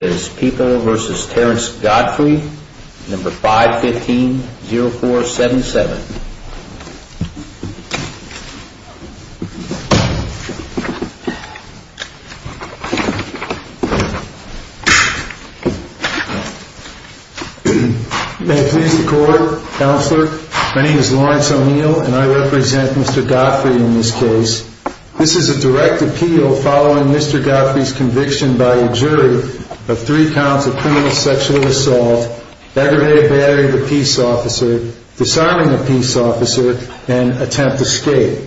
May it please the Court, Counselor, my name is Lawrence O'Neill and I represent Mr. Godfrey in this case. This is a direct appeal following Mr. Godfrey's conviction by a jury of three counts of criminal sexual assault, aggravated battery of a peace officer, disarming a peace officer, and attempt escape.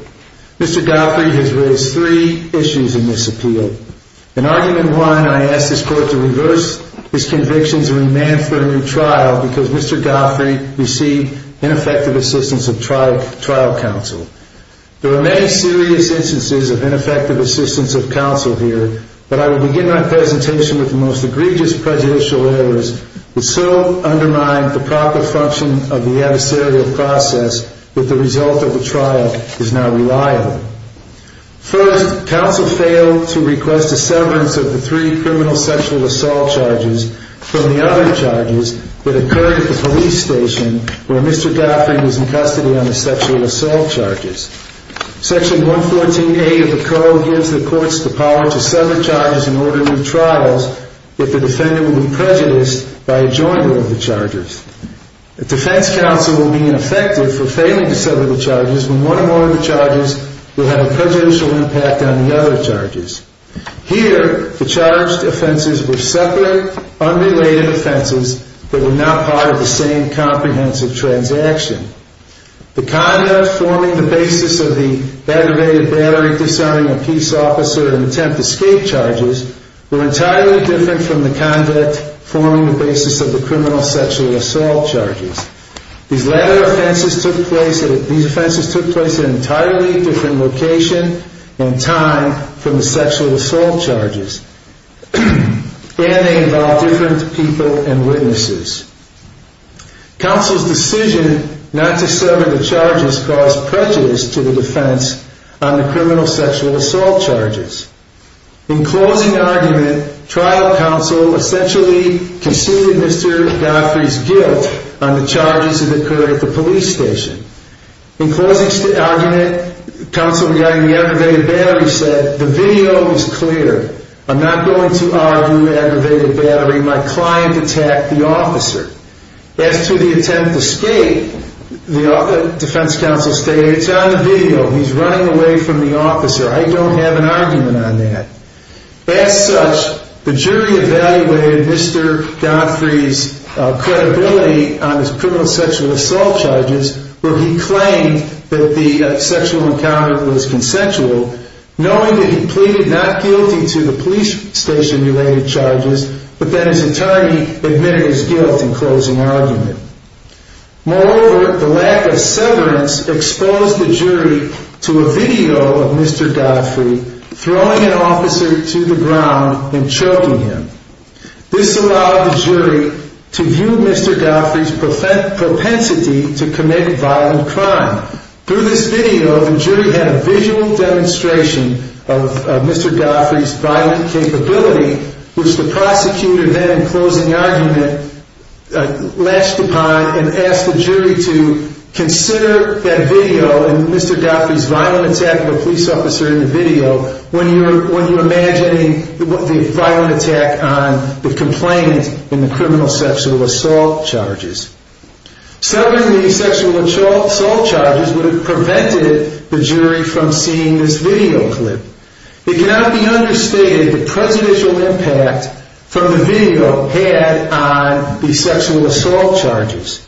Mr. Godfrey has raised three issues in this appeal. In argument one, I ask this Court to reverse his convictions and remand for a new trial because Mr. Godfrey received ineffective assistance of trial counsel. There are many serious instances of ineffective assistance of counsel here, but I will begin my presentation with the most egregious prejudicial errors that so undermine the proper function of the adversarial process that the result of the trial is now reliable. First, counsel failed to request a severance of the three criminal sexual assault charges from the other charges that occurred at the police station where Mr. Godfrey was in custody on the sexual assault charges. Section 114A of the Code gives the Courts the power to sever charges and order new trials if the defendant will be prejudiced by a joiner of the charges. A defense counsel will be ineffective for failing to sever the charges when one or more of the charges will have a prejudicial impact on the other charges. Here, the charged offenses were separate, unrelated offenses that were not part of the same comprehensive transaction. The conduct forming the basis of the aggravated battery, disarming a peace officer, and attempt escape charges were entirely different from the conduct forming the basis of the criminal sexual assault charges. These offenses took place at an entirely different location and time from the sexual assault charges, and they involved different people and witnesses. Counsel's decision not to sever the charges caused prejudice to the defense on the criminal sexual assault charges. In closing argument, trial counsel essentially conceded Mr. Godfrey's guilt on the charges that occurred at the police station. In closing argument, counsel regarding the aggravated battery said, The video was clear. I'm not going to argue aggravated battery. My client attacked the officer. As to the attempt escape, the defense counsel stated, It's on the video. He's running away from the officer. I don't have an argument on that. As such, the jury evaluated Mr. Godfrey's credibility on his criminal sexual assault charges, where he claimed that the sexual encounter was consensual, knowing that he pleaded not guilty to the police station-related charges, but that his attorney admitted his guilt in closing argument. Moreover, the lack of severance exposed the jury to a video of Mr. Godfrey throwing an officer to the ground and choking him. This allowed the jury to view Mr. Godfrey's propensity to commit violent crime. Through this video, the jury had a visual demonstration of Mr. Godfrey's violent capability, which the prosecutor then, in closing argument, latched upon and asked the jury to consider that video and Mr. Godfrey's violent attack of a police officer in the video when you're violent attack on the complainant in the criminal sexual assault charges. Severing the sexual assault charges would have prevented the jury from seeing this video clip. It cannot be understated the presidential impact from the video had on the sexual assault charges.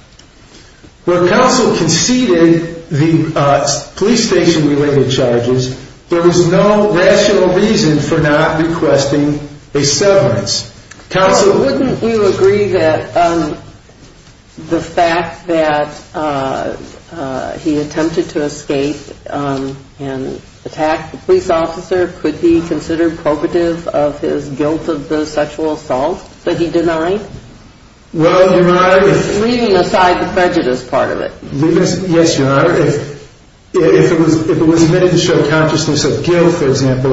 When counsel conceded the police station-related charges, there was no rational reason for not requesting a severance. Counsel... So wouldn't you agree that the fact that he attempted to escape and attack the police officer could be considered probative of his guilt of the sexual assault that he denied? Well, Your Honor... Leaving aside the prejudice part of it. Yes, Your Honor. If it was admitted to show consciousness of guilt, for example,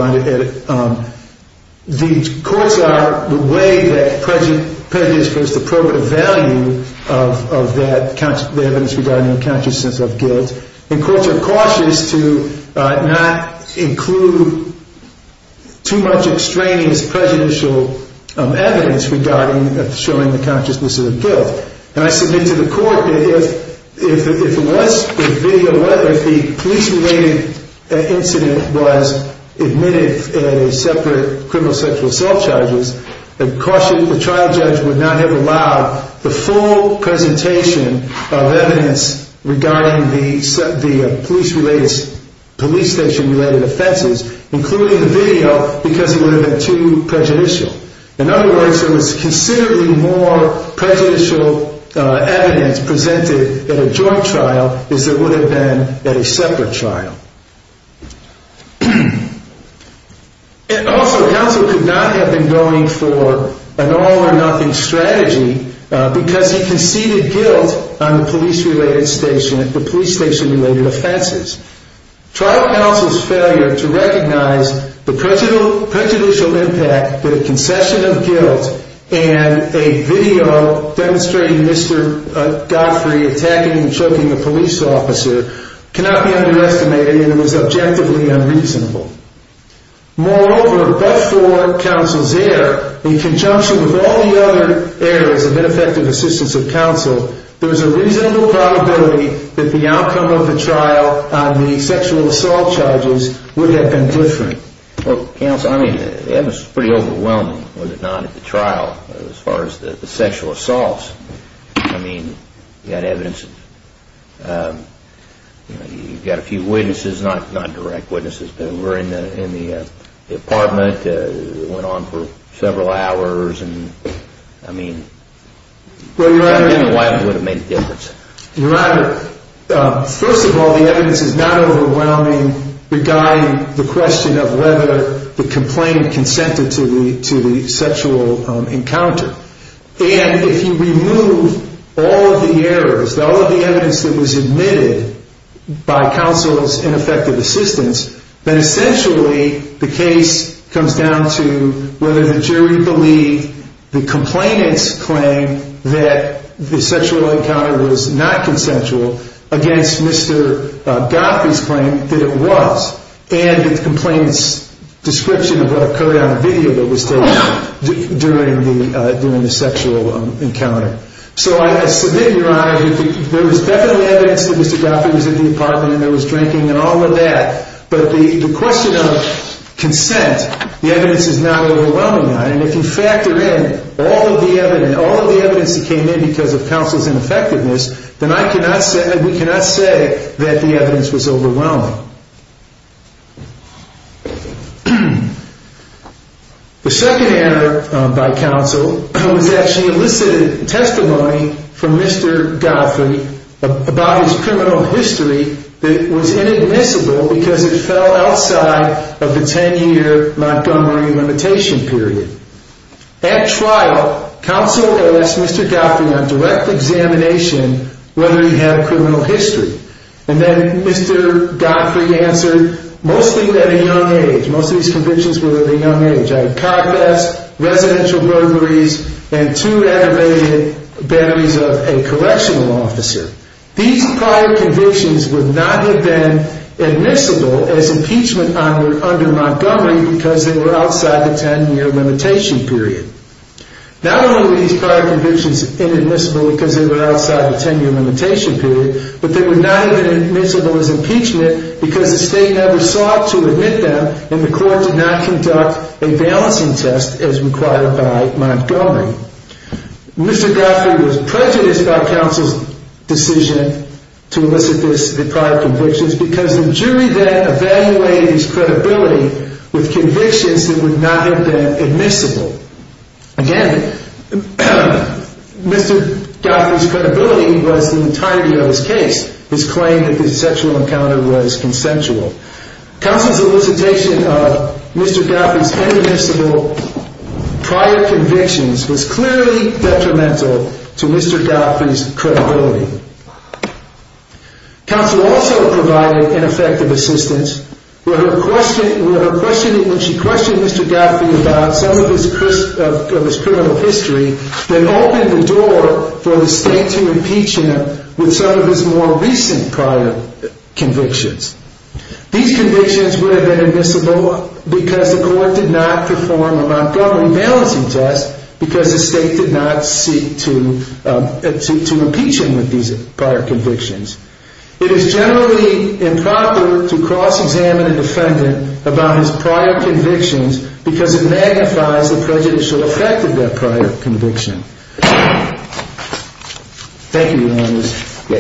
the courts are, the way that prejudice proves the probative value of that evidence regarding consciousness of guilt, the courts are cautious to not include too much extraneous prejudicial evidence regarding showing the consciousness of guilt. And I submit to the court that if it was the video, whether the police-related incident was admitted in a separate criminal sexual assault charges, the trial judge would not have allowed the full presentation of evidence regarding the police station-related offenses, including the video, because it would have been too prejudicial. In other words, there was considerably more prejudicial evidence presented at a joint trial as there would have been at a separate trial. And also, counsel could not have been going for an all-or-nothing strategy because he conceded guilt on the police-related station, the police station-related offenses. Trial counsel's failure to recognize the prejudicial impact that a concession of guilt and a video demonstrating Mr. Godfrey attacking and choking a police officer cannot be underestimated and it was objectively unreasonable. Moreover, but for counsel's error, in conjunction with all the other errors of ineffective assistance of counsel, there's a reasonable probability that the outcome of the trial on the sexual assault charges would have been different. Well, counsel, I mean, that was pretty overwhelming, was it not, at the trial, as far as the sexual assaults. I mean, you had evidence, you know, you've got a few witnesses, not direct witnesses, but were in the apartment, went on for several hours, and I mean... Well, your Honor... I don't know why it would have made a difference. Your Honor, first of all, the evidence is not overwhelming regarding the question of whether the complainant consented to the sexual encounter. And if you remove all of the errors, all of the evidence that was admitted by counsel's ineffective assistance, then essentially the case comes down to whether the jury believed the complainant's claim that the sexual encounter was not consensual against Mr. Goffey's claim that it was, and the complainant's description of what occurred on the video that was taken during the sexual encounter. So I submit, Your Honor, there was definitely evidence that Mr. Goffey was in the apartment and there was drinking and all of that, but the question of consent, the evidence is not overwhelming on it, and if you factor in all of the evidence, all of the evidence that came in because of counsel's ineffectiveness, then I cannot say, we cannot say that the evidence was overwhelming. The second error by counsel was actually elicited testimony from Mr. Goffey about his criminal history that was inadmissible because it fell outside of the 10-year Montgomery limitation period. At trial, counsel asked Mr. Goffey on direct examination whether he had a criminal history, and then Mr. Goffey answered, mostly at a young age, most of these convictions were at a young age. I had car thefts, residential burglaries, and two aggravated batteries of a correctional officer. These prior convictions would not have been admissible as impeachment under Montgomery because they were outside the 10-year limitation period. Not only were these prior convictions inadmissible because they were outside the 10-year limitation period, but they were not admissible as impeachment because the state never sought to admit them and the court did not conduct a balancing test as required by Montgomery. Mr. Goffey was prejudiced by counsel's decision to elicit these prior convictions because the jury then evaluated his credibility with convictions that would not have been admissible. Again, Mr. Goffey's credibility was the entirety of his case. His claim that the sexual encounter was consensual. Counsel's elicitation of Mr. Goffey's inadmissible prior convictions was clearly detrimental to Mr. Goffey's credibility. Counsel also provided ineffective assistance where she questioned Mr. Goffey about some of his criminal history that opened the door for the state to impeach him with some of These convictions would have been admissible because the court did not perform a Montgomery balancing test because the state did not seek to impeach him with these prior convictions. It is generally improper to cross-examine a defendant about his prior convictions because it magnifies the prejudicial effect of that prior conviction. Thank you, Your Honors.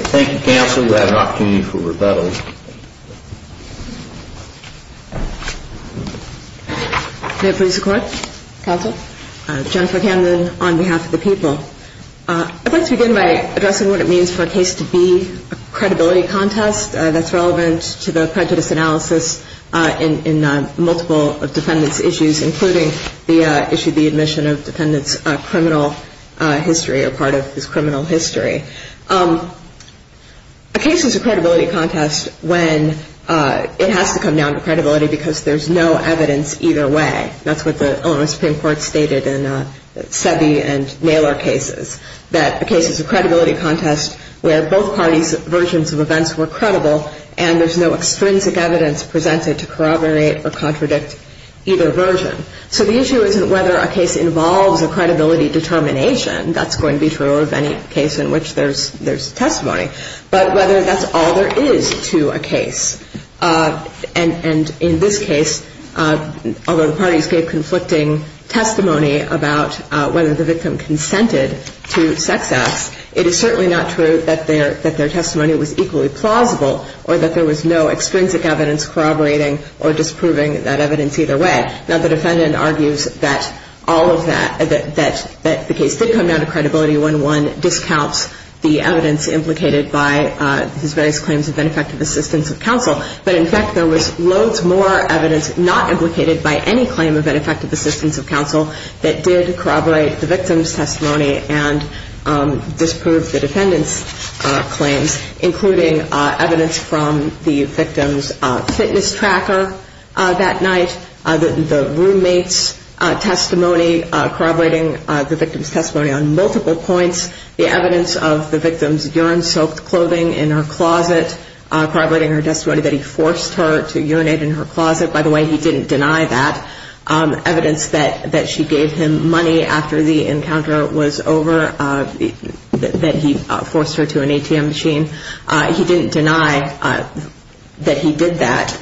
Thank you, counsel. We have an opportunity for rebuttal. May it please the Court? Counsel. Jennifer Camden on behalf of the people. I'd like to begin by addressing what it means for a case to be a credibility contest. That's relevant to the prejudice analysis in multiple defendants' issues, including the issue of the admission of defendants' criminal history or part of his criminal history. A case is a credibility contest when it has to come down to credibility because there's no evidence either way. That's what the Illinois Supreme Court stated in Sevey and Naylor cases, that a case is a credibility contest where both parties' versions of events were credible and there's no extrinsic evidence presented to corroborate or contradict either version. So the issue isn't whether a case involves a credibility determination. That's going to be true of any case in which there's testimony. But whether that's all there is to a case. And in this case, although the parties gave conflicting testimony about whether the victim consented to sex acts, it is certainly not true that their testimony was equally plausible or that there was no extrinsic evidence corroborating or disproving that evidence either way. Now, the defendant argues that all of that, that the case did come down to credibility when one discounts the evidence implicated by his various claims of ineffective assistance of counsel. But in fact, there was loads more evidence not implicated by any claim of ineffective assistance of counsel that did corroborate the victim's testimony and disprove the defendant's claims, including evidence from the victim's fitness tracker that night, the roommate's testimony corroborating the victim's testimony on multiple points, the evidence of the victim's urine-soaked clothing in her closet, corroborating her testimony that he forced her to urinate in her closet. By the way, he didn't deny that. Evidence that she gave him money after the encounter was over, that he forced her to an ATM machine. He didn't deny that he did that.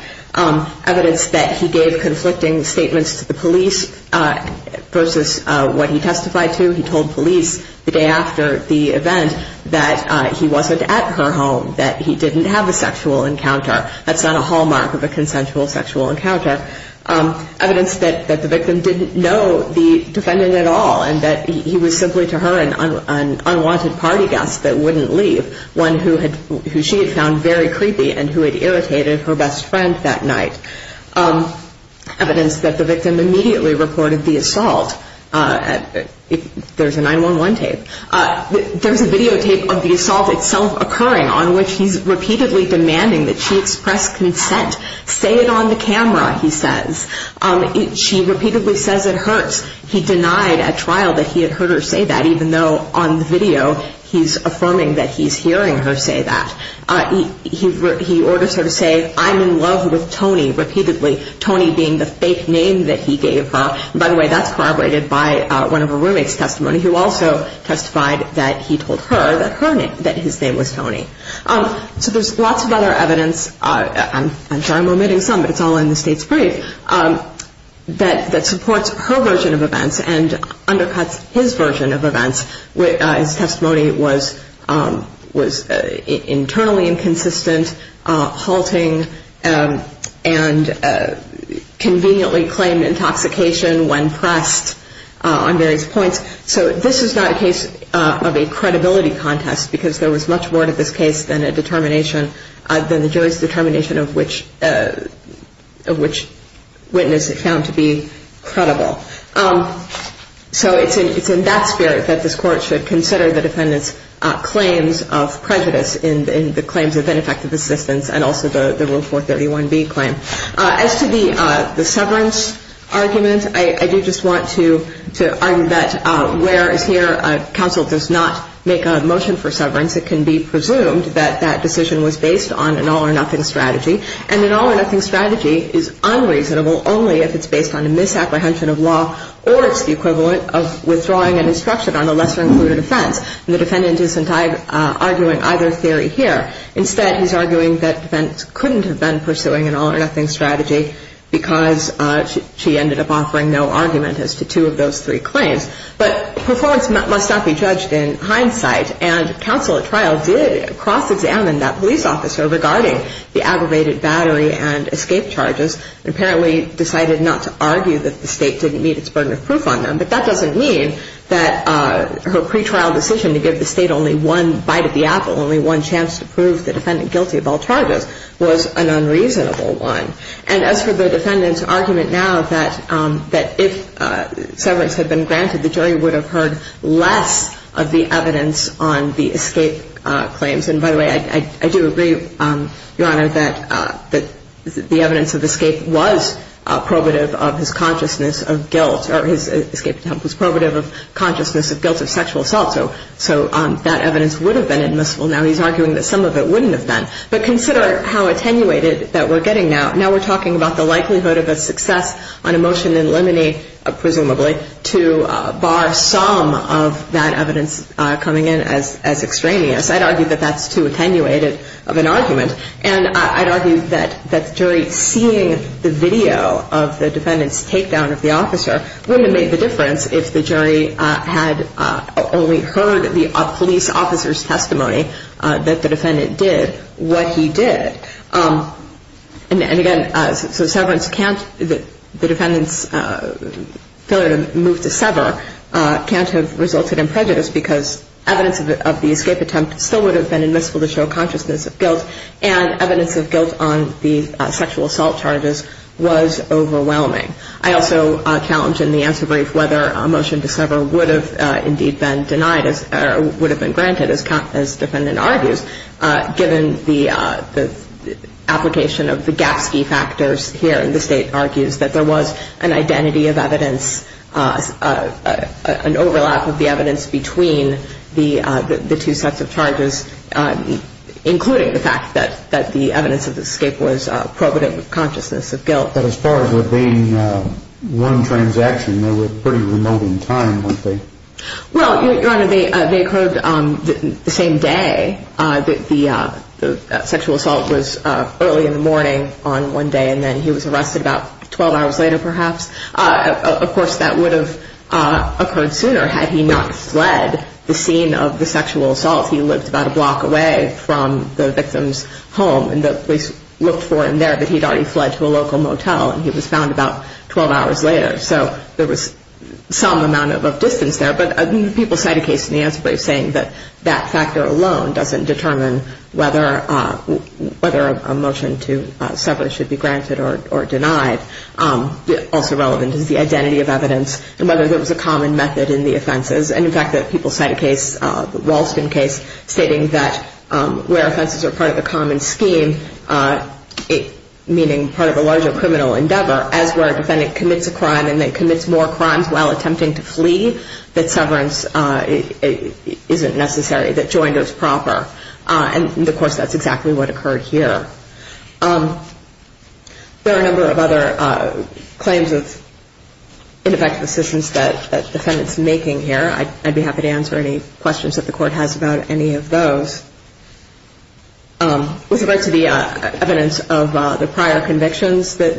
Evidence that he gave conflicting statements to the police versus what he testified to. He told police the day after the event that he wasn't at her home, that he didn't have a sexual encounter. That's not a hallmark of a consensual sexual encounter. Evidence that the victim didn't know the defendant at all and that he was simply to her an unwanted party guest that wouldn't leave, one who she had found very creepy and who had irritated her best friend that night. Evidence that the victim immediately reported the assault. There's a 9-1-1 tape. There's a videotape of the assault itself occurring on which he's repeatedly demanding that she express consent. Say it on the camera, he says. She repeatedly says it hurts. He denied at trial that he had heard her say that, even though on the video he's affirming that he's hearing her say that. He orders her to say, I'm in love with Tony, repeatedly. Tony being the fake name that he gave her. By the way, that's corroborated by one of her roommate's testimony who also testified that he told her that his name was Tony. So there's lots of other evidence. I'm sorry I'm omitting some, but it's all in the state's brief. That supports her version of events and undercuts his version of events. His testimony was internally inconsistent, halting, and conveniently claimed intoxication when pressed on various points. So this is not a case of a credibility contest, because there was much more to this case than the jury's determination of which witness it found to be credible. So it's in that spirit that this Court should consider the defendant's claims of prejudice in the claims of ineffective assistance and also the Rule 431B claim. As to the severance argument, I do just want to argue that whereas here counsel does not make a motion for severance, it can be presumed that that decision was based on an all-or-nothing strategy. And an all-or-nothing strategy is unreasonable only if it's based on a misapprehension of law or it's the equivalent of withdrawing an instruction on a lesser-included offense. And the defendant isn't arguing either theory here. Instead, he's arguing that the defendant couldn't have been pursuing an all-or-nothing strategy because she ended up offering no argument as to two of those three claims. But performance must not be judged in hindsight, and counsel at trial did cross-examine that police officer regarding the aggravated battery and escape charges and apparently decided not to argue that the state didn't meet its burden of proof on them. But that doesn't mean that her pretrial decision to give the state only one bite of the apple, only one chance to prove the defendant guilty of all charges, was an unreasonable one. And as for the defendant's argument now that if severance had been granted, the jury would have heard less of the evidence on the escape claims. And by the way, I do agree, Your Honor, that the evidence of escape was probative of his consciousness of guilt or his escape attempt was probative of consciousness of guilt of sexual assault. So that evidence would have been admissible. Now he's arguing that some of it wouldn't have been. But consider how attenuated that we're getting now. Now we're talking about the likelihood of a success on a motion in limine, presumably, to bar some of that evidence coming in as extraneous. I'd argue that that's too attenuated of an argument. And I'd argue that the jury seeing the video of the defendant's takedown of the officer wouldn't have made the difference if the jury had only heard the police officer's testimony that the defendant did what he did. And again, the defendant's failure to move to sever can't have resulted in prejudice because evidence of the escape attempt still would have been admissible to show consciousness of guilt, and evidence of guilt on the sexual assault charges was overwhelming. I also challenge in the answer brief whether a motion to sever would have indeed been denied or would have been granted, as the defendant argues, given the application of the Gapsky factors here. And the State argues that there was an identity of evidence, an overlap of the evidence between the two sets of charges, including the fact that the evidence of the escape was probative of consciousness of guilt. But as far as there being one transaction, they were pretty remote in time, weren't they? Well, Your Honor, they occurred the same day. The sexual assault was early in the morning on one day, and then he was arrested about 12 hours later, perhaps. Of course, that would have occurred sooner had he not fled the scene of the sexual assault. He lived about a block away from the victim's home, and the police looked for him there, but he had already fled to a local motel, and he was found about 12 hours later. So there was some amount of distance there. But people cite a case in the answer brief saying that that factor alone doesn't determine whether a motion to sever should be granted or denied. Also relevant is the identity of evidence and whether there was a common method in the offenses. And in fact, people cite a case, the Walston case, stating that where offenses are part of the common scheme, meaning part of a larger criminal endeavor, as where a defendant commits a crime and then commits more crimes while attempting to flee, that severance isn't necessary, that joint is proper. And, of course, that's exactly what occurred here. There are a number of other claims of ineffective assistance that the defendant's making here. I'd be happy to answer any questions that the Court has about any of those. With regard to the evidence of the prior convictions that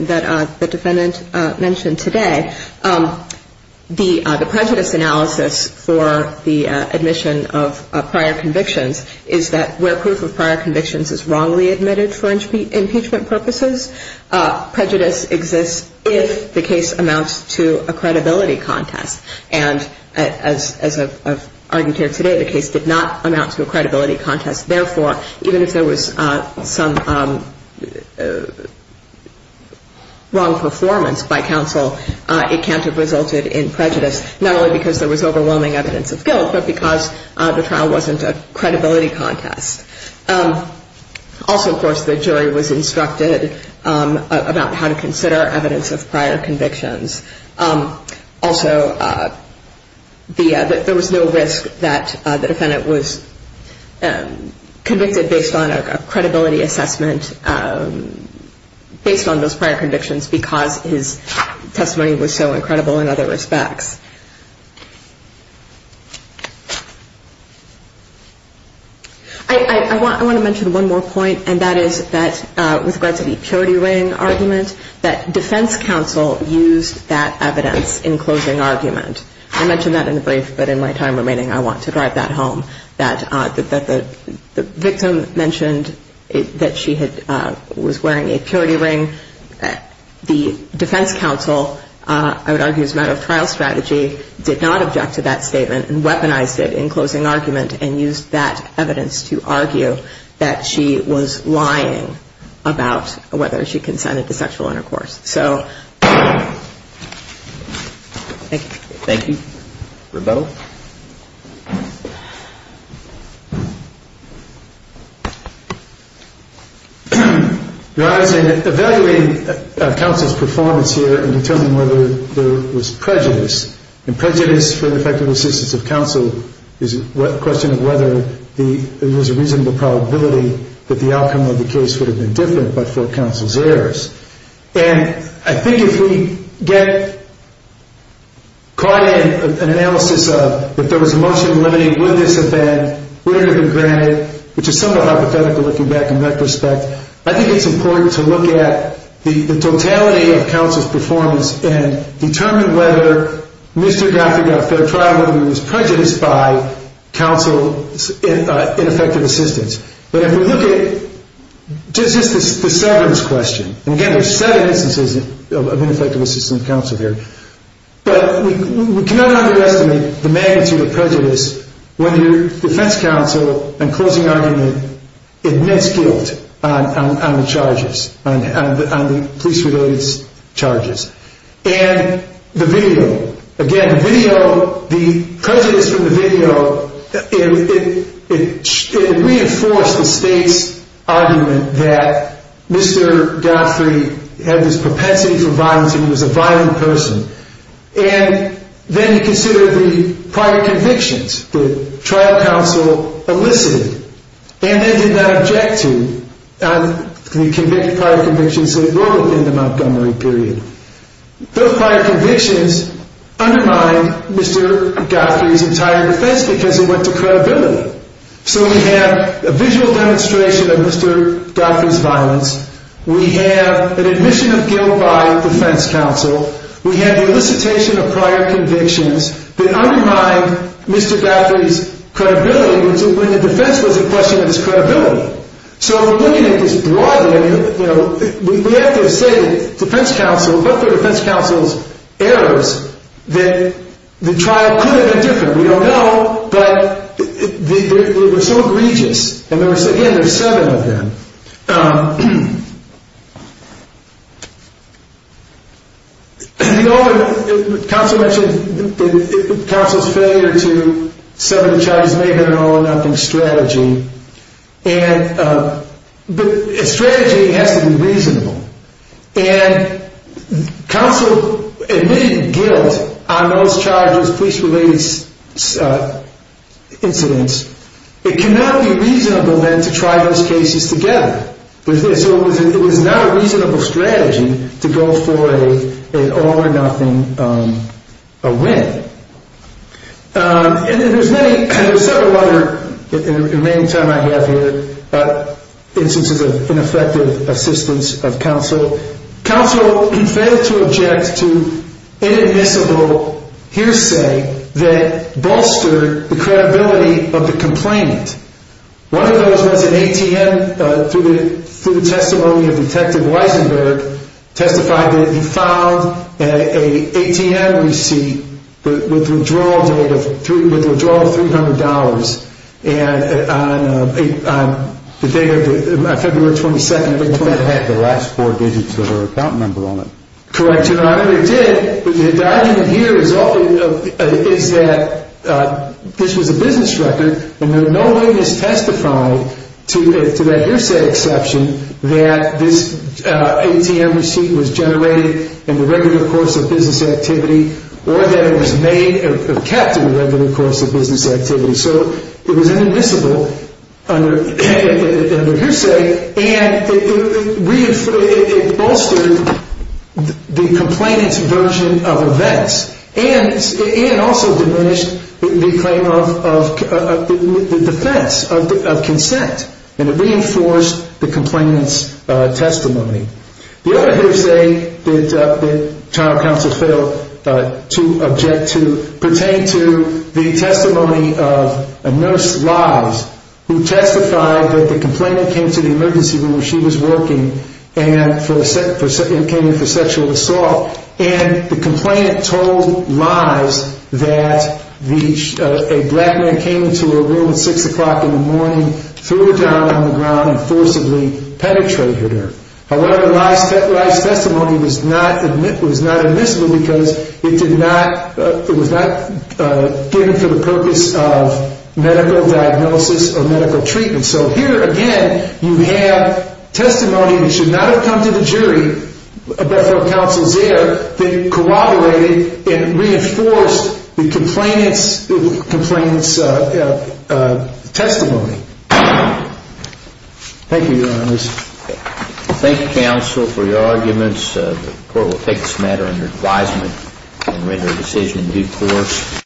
the defendant mentioned today, the prejudice analysis for the admission of prior convictions is that where proof of prior convictions is wrongly admitted for impeachment purposes, prejudice exists if the case amounts to a credibility contest. And as I've argued here today, the case did not amount to a credibility contest. Therefore, even if there was some wrong performance by counsel, it can't have resulted in prejudice, not only because there was overwhelming evidence of guilt, but because the trial wasn't a credibility contest. Also, of course, the jury was instructed about how to consider evidence of prior convictions. Also, there was no risk that the defendant was convicted based on a credibility assessment, based on those prior convictions, because his testimony was so incredible in other respects. I want to mention one more point, and that is that with regard to the purity ring argument, that defense counsel used that evidence in closing argument. I mentioned that in the brief, but in my time remaining, I want to drive that home, that the victim mentioned that she was wearing a purity ring. The defense counsel, I would argue as a matter of trial strategy, did not object to that statement and weaponized it in closing argument and used that evidence to argue that she was lying about whether she consented to sexual intercourse. So thank you. Thank you. Rebuttal? Your Honor, I was evaluating counsel's performance here in determining whether there was prejudice, and prejudice for the effective assistance of counsel is a question of whether there was a reasonable probability that the outcome of the case would have been different but for counsel's errors. And I think if we get caught in an analysis of if there was emotion limiting, would this have been, would it have been granted, which is somewhat hypothetical looking back in that respect, I think it's important to look at the totality of counsel's performance and determine whether Mr. Gottfried got fair trial, whether he was prejudiced by counsel's ineffective assistance. But if we look at just the severance question, and again there's seven instances of ineffective assistance of counsel here, but we cannot underestimate the magnitude of prejudice when your defense counsel in closing argument admits guilt on the charges, on the police resilience charges. And the video, again the video, the prejudice from the video, it reinforced the state's argument that Mr. Gottfried had this propensity for violence and he was a violent person. And then you consider the prior convictions that trial counsel elicited, and they did not object to the prior convictions in the Montgomery period. Those prior convictions undermined Mr. Gottfried's entire defense because it went to credibility. So we have a visual demonstration of Mr. Gottfried's violence, we have an admission of guilt by defense counsel, we have the elicitation of prior convictions that undermine Mr. Gottfried's credibility when the defense was in question of his credibility. So looking at this broadly, we have to say that defense counsel, but the defense counsel's errors, that the trial could have been different, we don't know, but they were so egregious. And again, there's seven of them. Counsel mentioned counsel's failure to subject the charges to an all-or-nothing strategy. And a strategy has to be reasonable. And counsel admitted guilt on those charges, police-related incidents. It cannot be reasonable, then, to try those cases together. So it was not a reasonable strategy to go for an all-or-nothing win. And there's several other instances of ineffective assistance of counsel. Counsel failed to object to inadmissible hearsay that bolstered the credibility of the complainant. One of those was an ATM, through the testimony of Detective Weisenberg, testified that he found an ATM receipt with withdrawal data, with withdrawal of $300. And on the day of February 22nd of 2020. It had the last four digits of her account number on it. Correct, Your Honor. It did. The argument here is that this was a business record. And no witness testified, to that hearsay exception, that this ATM receipt was generated in the regular course of business activity or that it was kept in the regular course of business activity. So it was inadmissible under hearsay, and it bolstered the complainant's version of events. And it also diminished the claim of defense, of consent. And it reinforced the complainant's testimony. The other hearsay that trial counsel failed to object to pertained to the testimony of a nurse Lise, who testified that the complainant came to the emergency room when she was working and came in for sexual assault. And the complainant told Lise that a black man came into her room at 6 o'clock in the morning, threw her down on the ground and forcibly penetrated her. However, Lise's testimony was not admissible because it was not given for the purpose of medical diagnosis or medical treatment. And so here, again, you have testimony that should not have come to the jury, but for counsel's error, that corroborated and reinforced the complainant's testimony. Thank you, Your Honors. Thank you, counsel, for your arguments. The court will take this matter under advisement and render a decision in due course.